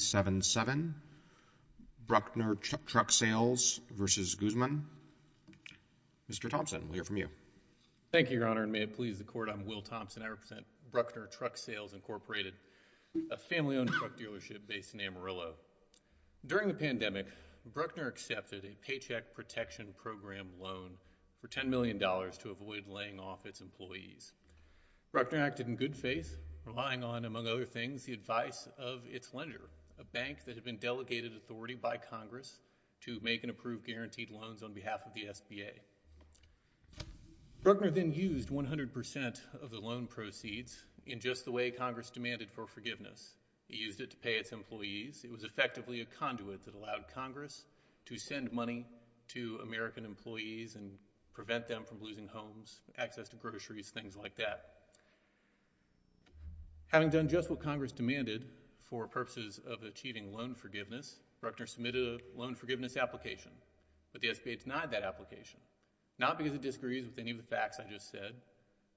7-7. Bruckner Truck Sales v. Guzman. Mr. Thompson, we'll hear from you. Thank you, Your Honor, and may it please the Court, I'm Will Thompson. I represent Bruckner Truck Sales, Inc., a family-owned truck dealership based in Amarillo. During the pandemic, Bruckner accepted a Paycheck Protection Program loan for $10 million to avoid laying off its employees. Bruckner acted in good faith, relying on, among other things, the advice of its lender, a bank that had been delegated authority by Congress to make and approve guaranteed loans on behalf of the SBA. Bruckner then used 100% of the loan proceeds in just the way Congress demanded for forgiveness. He used it to pay its employees. It was effectively a conduit that allowed Congress to send money to American employees and prevent them from losing homes, access to groceries, things like that. Having done just what Congress demanded for purposes of achieving loan forgiveness, Bruckner submitted a loan forgiveness application, but the SBA denied that application, not because it disagrees with any of the facts I just said,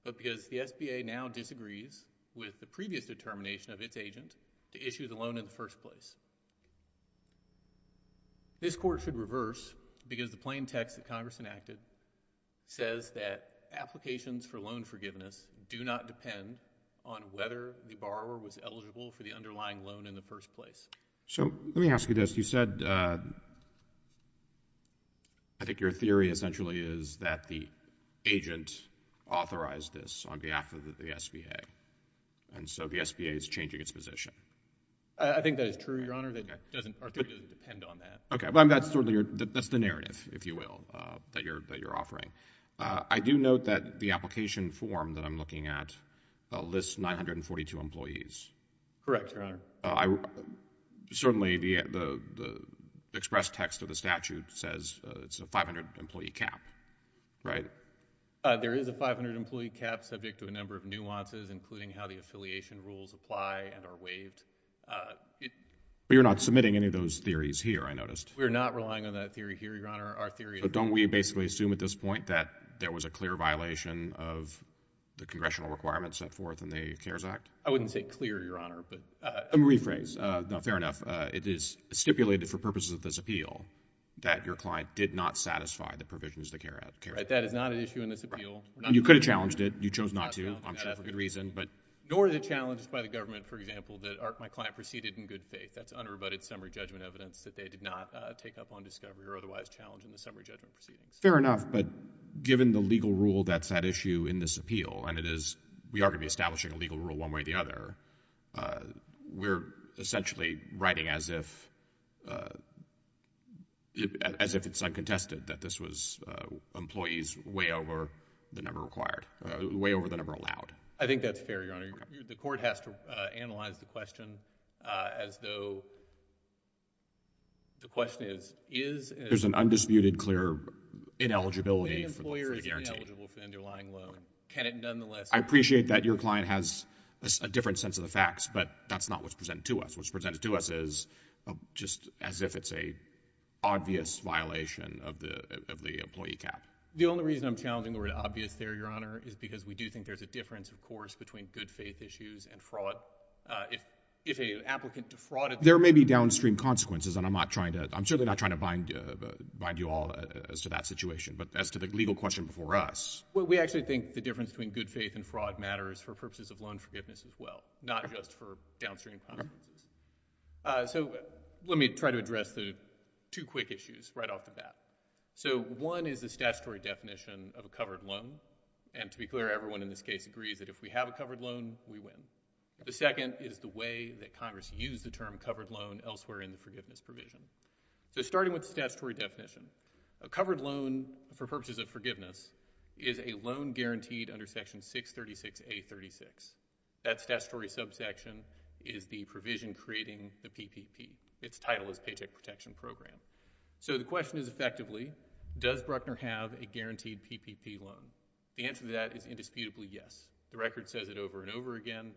but because the SBA now disagrees with the previous determination of its agent to issue the loan in the first place. This Court should reverse because the plain text that Congress enacted says that applications for loan forgiveness do not depend on whether the borrower was eligible for the underlying loan in the first place. So, let me ask you this. You said, I think your theory essentially is that the agent authorized this on behalf of the SBA, and so the SBA is changing its position. I think that is true, Your Honor. Our theory doesn't depend on that. Okay. That's the narrative, if you will, that you're offering. I do note that the application form that I'm looking at lists 942 employees. Correct, Your Honor. Certainly, the express text of the statute says it's a 500-employee cap, right? There is a 500-employee cap subject to a number of nuances, including how the affiliation rules apply and are waived. But you're not submitting any of those theories here, I noticed. We're not relying on that theory here, Your Honor. But don't we basically assume at this point that there was a clear violation of the congressional requirements set forth in the CARES Act? I wouldn't say clear, Your Honor. A rephrase. No, fair enough. It is stipulated for purposes of this appeal that your client did not satisfy the provisions of the CARES Act. That is not an issue in this appeal. You could have challenged it. You chose not to. I'm sure for good reason, but nor is it challenged by the government, for example, that my client proceeded in good faith. That's unrebutted summary judgment evidence that they did not take up on discovery or otherwise challenge in the summary judgment proceedings. Fair enough. But given the legal rule that's at issue in this appeal, and we are going to be establishing a legal rule one way or the other, we're essentially writing as if it's uncontested that this was employees way over the number allowed. I think that's fair, Your Honor. The court has to analyze the question as though the question is, is— There's an undisputed clear ineligibility for the guarantee. The employer is ineligible for the underlying loan. Can it nonetheless— I appreciate that your client has a different sense of the facts, but that's not what's presented to us. What's presented to us is just as if it's a obvious violation of the employee cap. The only reason I'm challenging the word obvious there, Your Honor, is because we do think there's a difference, of course, between good faith issues and fraud. If an applicant defrauded— There may be downstream consequences, and I'm not trying to— I'm certainly not trying to bind you all as to that situation, but as to the legal question before us. Well, we actually think the difference between good faith and fraud matters for purposes of loan forgiveness as well, not just for downstream consequences. So let me try to address the two quick issues right off the bat. So one is the statutory definition of a covered loan, and to be clear, everyone in this case agrees that if we have a covered loan, we win. The second is the way that Congress used the term covered loan elsewhere in the forgiveness provision. So starting with the statutory definition, a covered loan for purposes of forgiveness is a loan guaranteed under Section 636A36. That statutory subsection is the provision creating the PPP. Its title is Paycheck Protection Program. So the question is effectively, does Bruckner have a guaranteed PPP loan? The answer to that is indisputably yes. The record says it over and over again.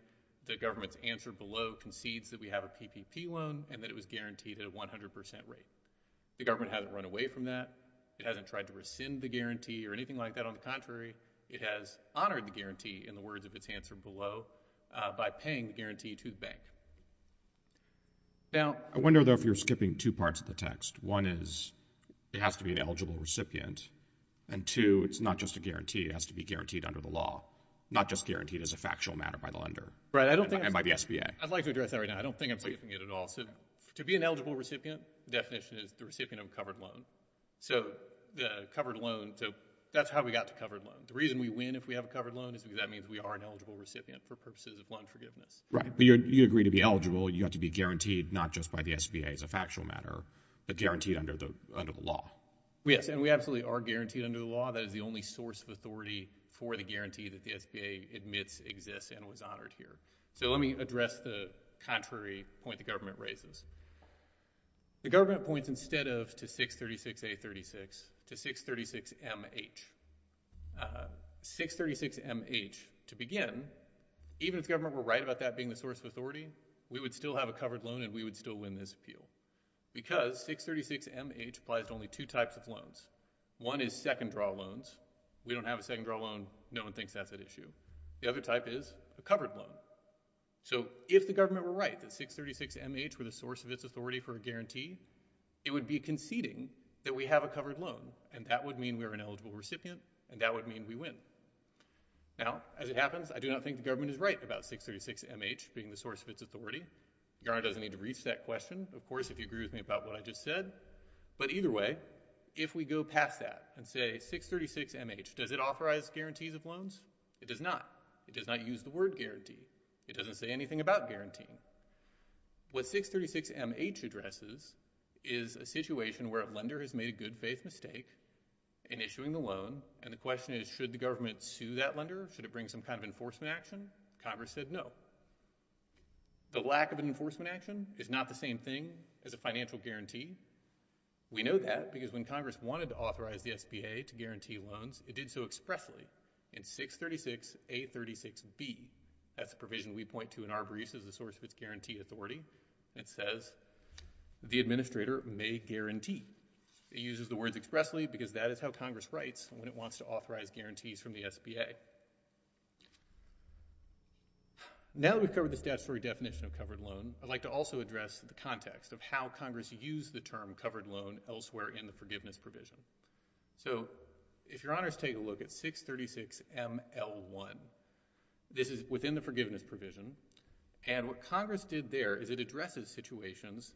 The government's answer below concedes that we have a PPP loan and that it was guaranteed at a 100 percent rate. The government hasn't run away from that. It hasn't tried to rescind the guarantee or anything like that. On the contrary, it has honored the guarantee in the words of its answer below by paying the guarantee to the bank. I wonder, though, if you're skipping two parts of the text. One is it has to be an eligible recipient, and two, it's not just a guarantee. It has to be guaranteed under the law, not just guaranteed as a factual matter by the lender and by the SBA. I'd like to address that right now. I don't think I'm skipping it at all. So to be an eligible recipient, the definition is the recipient of a covered loan. So that's how we got to covered loan. The reason we win if we have a covered loan is because that means we are an eligible recipient for purposes of loan forgiveness. Right. But you agree to be eligible. You have to be guaranteed not just by the SBA as a factual matter, but guaranteed under the law. Yes, and we absolutely are guaranteed under the law. That is the only source of authority for the guarantee that the SBA admits exists and was honored here. So let me address the contrary point the government raises. The government points instead of to 636A36, to 636MH. 636MH, to begin, even if the government were right about that being the source of authority, we would still have a covered loan and we would still win this appeal because 636MH applies to only two types of loans. One is second draw loans. We don't have a second draw loan. No one thinks that's an issue. The other type is a covered loan. So if the government were right that 636MH were the source of its authority for a guarantee, it would be conceding that we have a covered loan and that would mean we are an eligible recipient and that would mean we win. Now, as it happens, I do not think the government is right about 636MH being the source of its authority. Your Honor doesn't need to reach that question, of course, if you agree with me about what I just said. But either way, if we go past that and say 636MH, does it authorize guarantees of loans? It does not. It does not use the word guarantee. It doesn't say anything about guaranteeing. What 636MH addresses is a situation where a lender has made a good faith mistake in issuing the loan and the question is should the government sue that lender? Should it bring some kind of enforcement action? Congress said no. The lack of an enforcement action is not the same thing as a financial guarantee. We know that because when Congress wanted to authorize the SBA to guarantee loans, it did so expressly in 636A36B. That's a provision we point to in our briefs as the source of its guarantee authority. It says the administrator may guarantee. It uses the words expressly because that is how Congress writes when it wants to authorize guarantees from the SBA. Now that we've covered the statutory definition of covered loan, I'd like to also address the context of how Congress used the term covered loan elsewhere in the forgiveness provision. So if your honors take a look at 636ML1. This is within the forgiveness provision and what Congress did there is it addresses situations.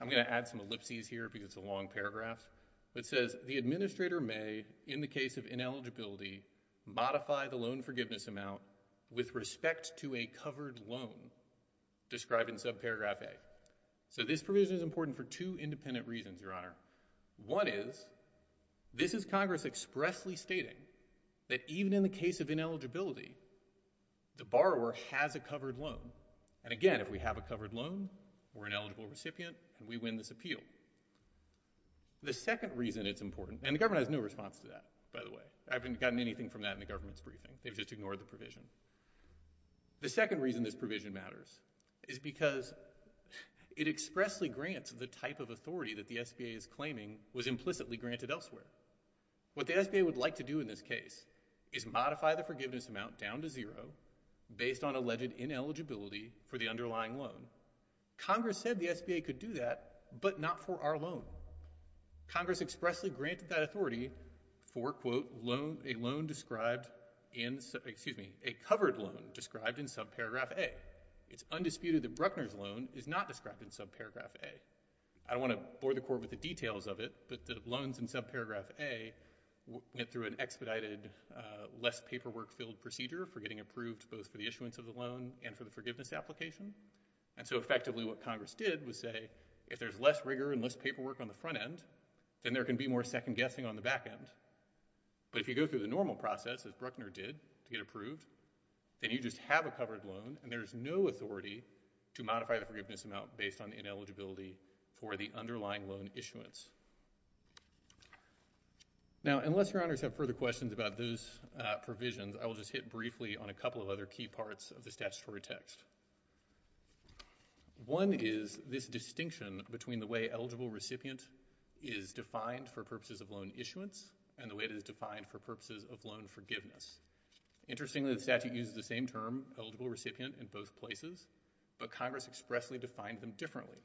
I'm going to add some ellipses here because it's a long paragraph. It says the administrator may, in the case of ineligibility, modify the loan forgiveness amount with respect to a covered loan described in subparagraph A. So this provision is important for two independent reasons, your honor. One is, this is Congress expressly stating that even in the case of ineligibility, the borrower has a covered loan. And again, if we have a covered loan, we're an eligible recipient and we win this appeal. The second reason it's important, and the government has no response to that, by the way. I haven't gotten anything from that in the government's briefing. They've just ignored the provision. The second reason this provision matters is because it expressly grants the type of authority that the SBA is claiming was implicitly granted elsewhere. What the SBA would like to do in this case is modify the forgiveness amount down to zero based on alleged ineligibility for the underlying loan. Congress said the SBA could do that, but not for our loan. Congress expressly granted that authority for, quote, a loan described in, excuse me, a covered loan described in subparagraph A. It's undisputed that Bruckner's loan is not described in subparagraph A. I don't want to bore the court with the details of it, but the loans in subparagraph A went through an expedited, less paperwork-filled procedure for getting approved both for the issuance of the loan and for the forgiveness application. And so effectively what Congress did was say, if there's less rigor and less but if you go through the normal process as Bruckner did to get approved, then you just have a covered loan and there's no authority to modify the forgiveness amount based on ineligibility for the underlying loan issuance. Now unless your honors have further questions about those provisions, I will just hit briefly on a couple of other key parts of the statutory text. One is this distinction between the way eligible recipient is defined for purposes of loan issuance and the way it is defined for purposes of loan forgiveness. Interestingly, the statute uses the same term, eligible recipient, in both places, but Congress expressly defined them differently.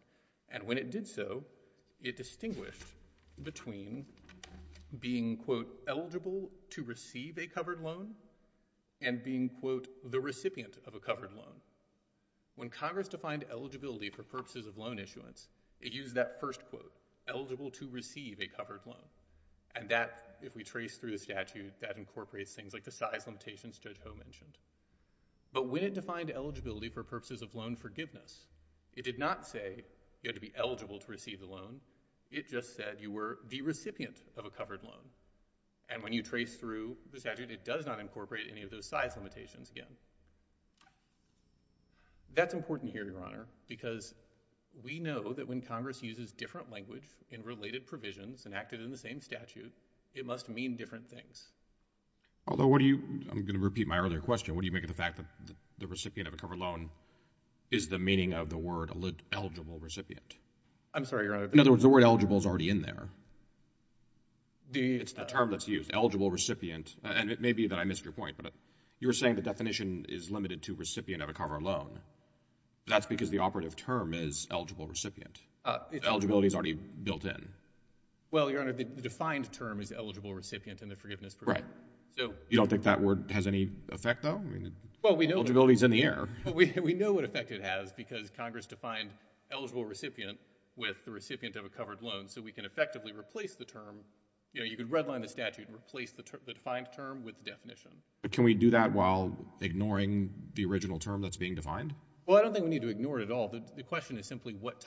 And when it did so, it distinguished between being, quote, eligible to receive a covered loan and being, quote, the recipient of a covered loan. When Congress defined eligibility for purposes of loan issuance, it used that first quote, eligible to receive a covered loan. And that, if we trace through the statute, that incorporates things like the size limitations Judge Ho mentioned. But when it defined eligibility for purposes of loan forgiveness, it did not say you had to be eligible to receive the loan. It just said you were the recipient of a covered loan. And when you trace through the statute, it does not incorporate any of those size limitations again. That's important here, Your Honor, because we know that when Congress uses different language in related provisions and acted in the same statute, it must mean different things. Although, what do you—I'm going to repeat my earlier question. What do you make of the fact that the recipient of a covered loan is the meaning of the word eligible recipient? I'm sorry, Your Honor. In other words, the word eligible is already in there. It's the term that's used, eligible recipient. And it may be that I missed your point, but you were saying the definition is limited to recipient of a covered loan. That's because the operative term is eligible recipient. Eligibility is already built in. Well, Your Honor, the defined term is eligible recipient in the forgiveness provision. Right. You don't think that word has any effect, though? Eligibility is in the air. We know what effect it has because Congress defined eligible recipient with the recipient of a covered loan. So we can effectively replace the term. You know, you could redline the statute and replace the defined term with the definition. But can we do that while ignoring the original term that's being defined? Well, I don't think we need to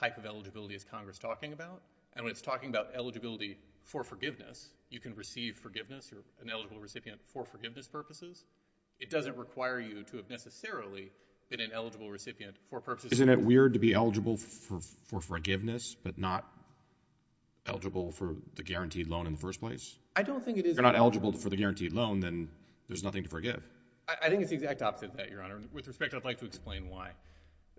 talk about eligibility as Congress talking about. And when it's talking about eligibility for forgiveness, you can receive forgiveness. You're an eligible recipient for forgiveness purposes. It doesn't require you to have necessarily been an eligible recipient for purposes. Isn't it weird to be eligible for forgiveness but not eligible for the guaranteed loan in the first place? I don't think it is. If you're not eligible for the guaranteed loan, then there's nothing to forgive. I think it's the exact opposite of that, Your Honor. With respect, I'd like to explain why.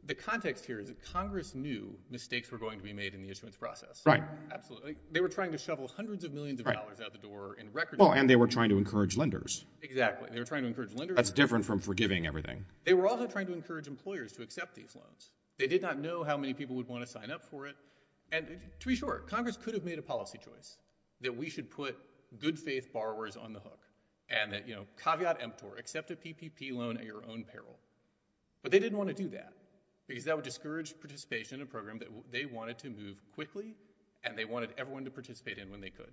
The context here is that Congress knew mistakes were going to be made in the issuance process. Right. Absolutely. They were trying to shovel hundreds of millions of dollars out the door in record time. Well, and they were trying to encourage lenders. Exactly. They were trying to encourage lenders. That's different from forgiving everything. They were also trying to encourage employers to accept these loans. They did not know how many people would want to sign up for it. And to be sure, Congress could have made a policy choice that we should put good-faith borrowers on the hook and that, you know, caveat emptor, accept a PPP loan at your own peril. But they didn't want to do that because that would discourage participation in a program that they wanted to move quickly and they wanted everyone to participate in when they could.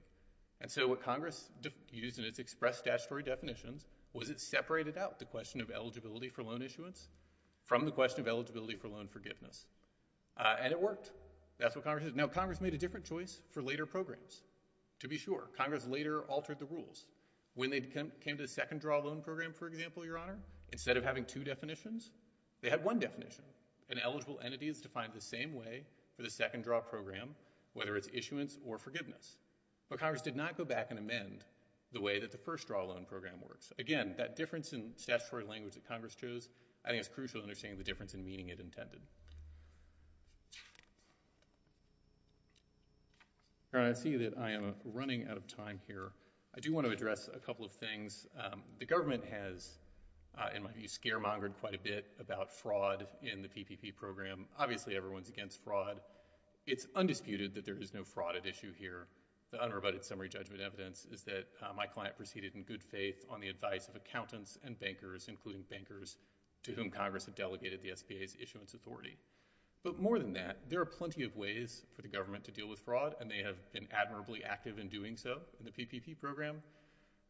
And so what Congress used in its express statutory definitions was it separated out the question of eligibility for loan issuance from the question of eligibility for loan forgiveness. And it worked. That's what Congress did. Now, Congress made a different choice for later programs. To be sure, Congress later altered the rules. When they came to the loan program, for example, Your Honor, instead of having two definitions, they had one definition. An eligible entity is defined the same way for the second-draw program, whether it's issuance or forgiveness. But Congress did not go back and amend the way that the first-draw loan program works. Again, that difference in statutory language that Congress chose, I think it's crucial to understand the difference in meaning it intended. Your Honor, I see that I am running out of time here. I do want to address a couple of things. The government has, in my view, scaremongered quite a bit about fraud in the PPP program. Obviously, everyone's against fraud. It's undisputed that there is no fraud at issue here. The unrebutted summary judgment evidence is that my client proceeded in good faith on the advice of accountants and bankers, including bankers to whom Congress had delegated the SBA's issuance authority. But more than that, there are plenty of ways for the government to deal with fraud, and they have been admirably active in doing so in the PPP program.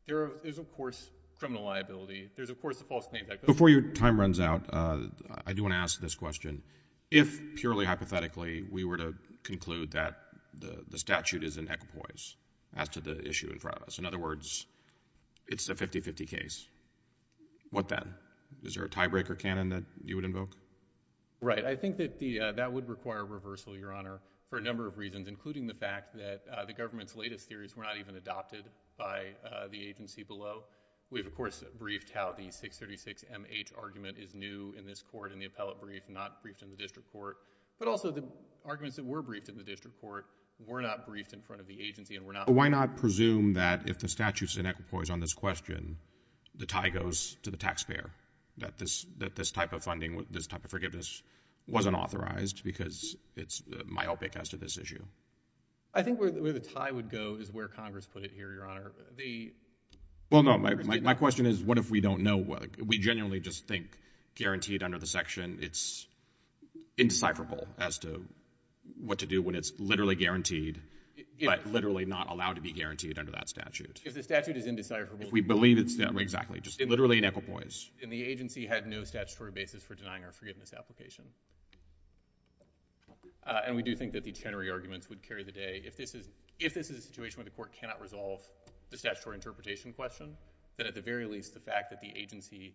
There's of course criminal liability. There's of course a false name tag. Before your time runs out, I do want to ask this question. If, purely hypothetically, we were to conclude that the statute is an equipoise as to the issue in front of us, in other words, it's a 50-50 case, what then? Is there a tiebreaker canon that you would invoke? Right. I think that that would require reversal, Your Honor, for a number of reasons, including the fact that the government's latest theories were not even adopted by the agency below. We've of course briefed how the 636MH argument is new in this court, in the appellate brief, not briefed in the district court. But also the arguments that were briefed in the district court were not briefed in front of the agency, and were not— Why not presume that if the statute is an equipoise on this question, the tie goes to the taxpayer, that this type of funding, this type of forgiveness wasn't authorized because it's myopic as to this issue? I think where the tie would go is where Congress put it here, Your Honor. Well, no, my question is, what if we don't know? We genuinely just think, guaranteed under the section, it's indecipherable as to what to do when it's literally guaranteed, but literally not allowed to be guaranteed under that statute? If the statute is indecipherable— If we believe it's—exactly, just literally an equipoise. And the agency had no statutory basis for denying our forgiveness application. And we do think that the Chenery arguments would carry the day. If this is a situation where the court cannot resolve the statutory interpretation question, then at the very least, the fact that the agency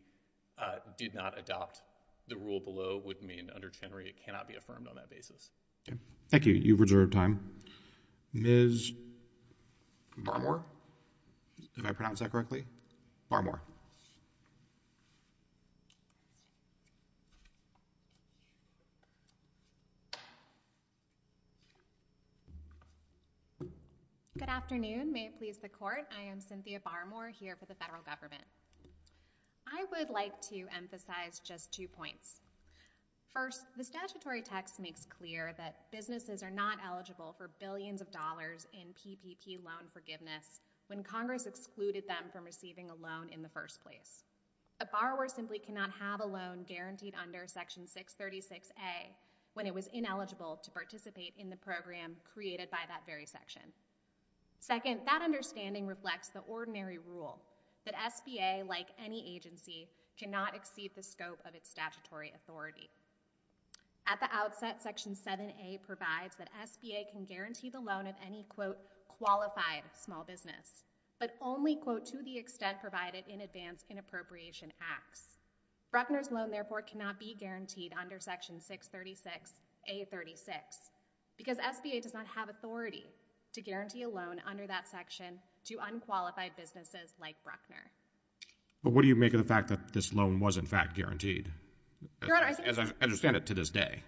did not adopt the rule below would mean under Chenery it cannot be affirmed on that basis. Okay. Thank you. You've reserved time. Ms. Barmore? Did I pronounce that correctly? Barmore. Good afternoon. May it please the Court. I am Cynthia Barmore here for the federal government. I would like to emphasize just two points. First, the statutory text makes clear that businesses are not eligible for billions of dollars in PPP loan forgiveness when Congress excluded them from receiving a loan in the first place. A borrower simply cannot have a loan guaranteed under Section 636A when it was ineligible to participate in the program created by that very section. Second, that understanding reflects the ordinary rule that SBA, like any agency, cannot exceed the scope of its statutory authority. At the outset, Section 7A provides that SBA can guarantee the loan of any, quote, qualified small business, but only, quote, to the extent provided in advance in appropriation acts. Bruckner's loan, therefore, cannot be guaranteed under Section 636A36 because SBA does not have authority to guarantee a loan under that section to unqualified businesses like Bruckner. But what do you make of the fact that this loan was, in fact, guaranteed, as I understand it to this day?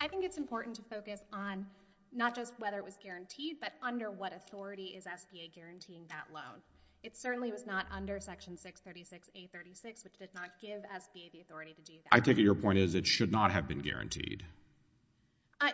I think it's important to focus on not just whether it was guaranteed, but under what authority is SBA guaranteeing that loan. It certainly was not under Section 636A36, which did not give SBA the authority to do that. I take it your point is it should not have been guaranteed.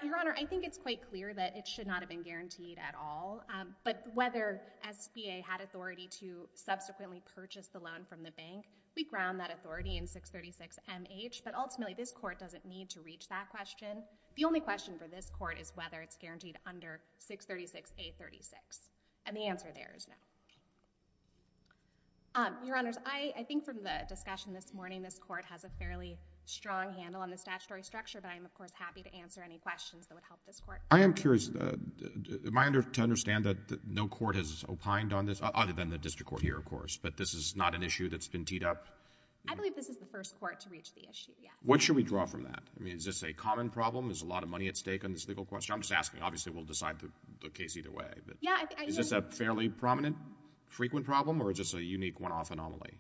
Your Honor, I think it's quite clear that it should not have been guaranteed at all, but whether SBA had authority to subsequently purchase the loan from the bank, we ground that authority in 636MH, but ultimately this Court doesn't need to reach that question. The only question for this Court is whether it's guaranteed under 636A36, and the answer there is no. Your Honors, I think from the discussion this morning, this Court has a fairly strong handle on the statutory structure, but I am, of course, happy to answer any questions that would help this Court. I am curious. Am I to understand that no Court has opined on this, other than the District Court here, of course, but this is not an issue that's been teed up? I believe this is the first Court to reach the issue, yes. What should we draw from that? I mean, is this a common problem? Is a lot of money at stake on this legal question? I'm just asking. Obviously, we'll decide the case either way. Is this a fairly prominent, frequent problem, or just a unique one-off anomaly?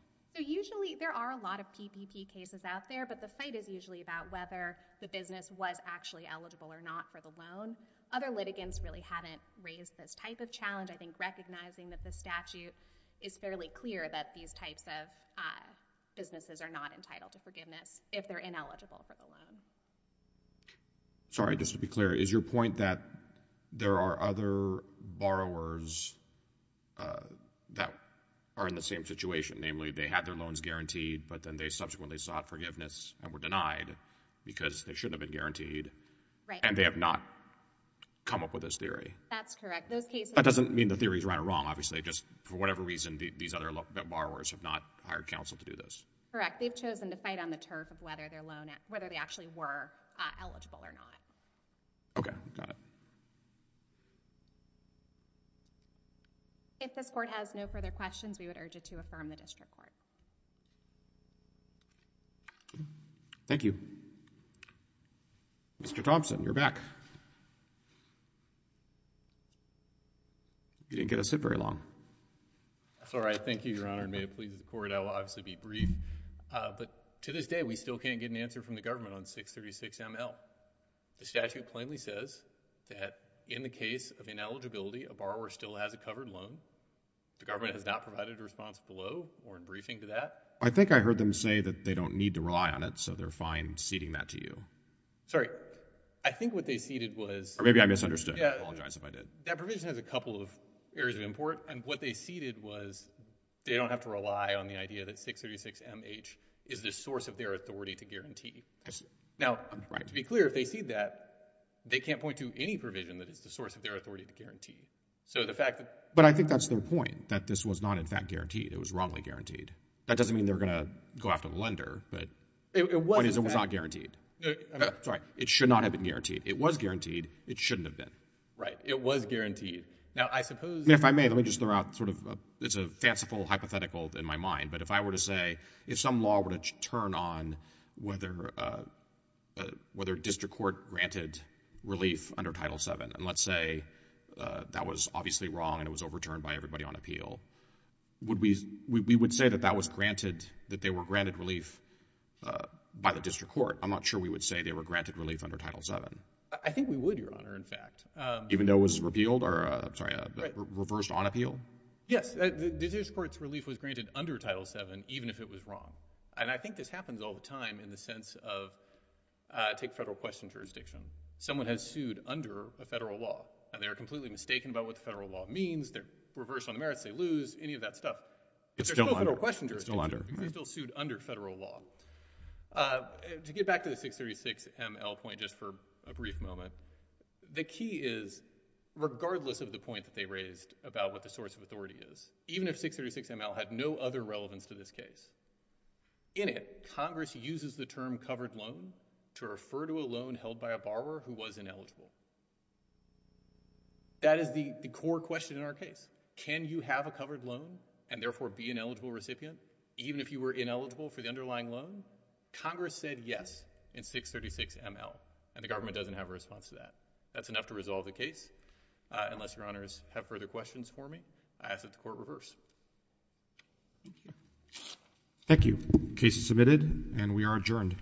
There are a lot of PPP cases out there, but the fight is usually about whether the business was actually eligible or not for the loan. Other litigants really haven't raised this type of challenge. I think recognizing that the statute is fairly clear that these types of businesses are not entitled to forgiveness if they're ineligible for the loan. Sorry, just to be clear, is your point that there are other borrowers that are in the same situation? Namely, they had their loans guaranteed, but then they subsequently sought forgiveness and were denied because they shouldn't have been guaranteed, and they have not come up with this theory? That's correct. Those cases— That doesn't mean the theory is right or wrong, obviously. Just for whatever reason, these other borrowers have not hired counsel to do this. Correct. They've chosen to fight on the turf of whether they actually were eligible or not. Okay. Got it. If this court has no further questions, we would urge it to affirm the district court. Thank you. Mr. Thompson, you're back. You didn't get to sit very long. That's all right. Thank you, Your Honor. And may it please the court, I will obviously be brief, but to this day, we still can't get an answer from the government on 636ML. The statute plainly says that in the case of ineligibility, a borrower still has a covered loan. The government has not provided a response below or in briefing to that. I think I heard them say that they don't need to rely on it, so they're fine ceding that to you. Sorry. I think what they ceded was— Maybe I misunderstood. I apologize if I did. That provision has a couple of areas of import, and what they ceded was they don't have to rely on the idea that 636MH is the source of their authority to guarantee. Now, to be clear, if they cede that, they can't point to any provision that is the source of their authority to guarantee. So the fact that— But I think that's their point, that this was not, in fact, guaranteed. It was wrongly guaranteed. That doesn't mean they're going to go after the lender, but it was not guaranteed. Sorry. It should not have been guaranteed. It was guaranteed. It shouldn't have been. Right. It was guaranteed. Now, I suppose— If I may, let me just throw out sort of—it's a fanciful hypothetical in my mind, but if I were to if some law were to turn on whether a district court granted relief under Title VII, and let's say that was obviously wrong and it was overturned by everybody on appeal, we would say that that was granted, that they were granted relief by the district court. I'm not sure we would say they were granted relief under Title VII. I think we would, Your Honor, in fact. Even though it was repealed or—I'm sorry—reversed on appeal? Yes. The district court's relief was granted under Title VII even if it was wrong, and I think this happens all the time in the sense of—take federal question jurisdiction. Someone has sued under a federal law, and they are completely mistaken about what the federal law means. They're reversed on the merits. They lose. Any of that stuff— It's still under. It's still a federal question jurisdiction. It's still under. It can still be sued under federal law. To get back to the 636ML point just for a brief moment, the key is, regardless of the point that they raised about what the source of authority is, even if 636ML had no other relevance to this case, in it, Congress uses the term covered loan to refer to a loan held by a borrower who was ineligible. That is the core question in our case. Can you have a covered loan and therefore be an eligible recipient even if you were ineligible for the underlying loan? Congress said yes in 636ML, and the government doesn't have a response to that. That's enough to resolve the case. Unless your honors have further questions for me, I ask that the court reverse. Thank you. Case is submitted, and we are adjourned.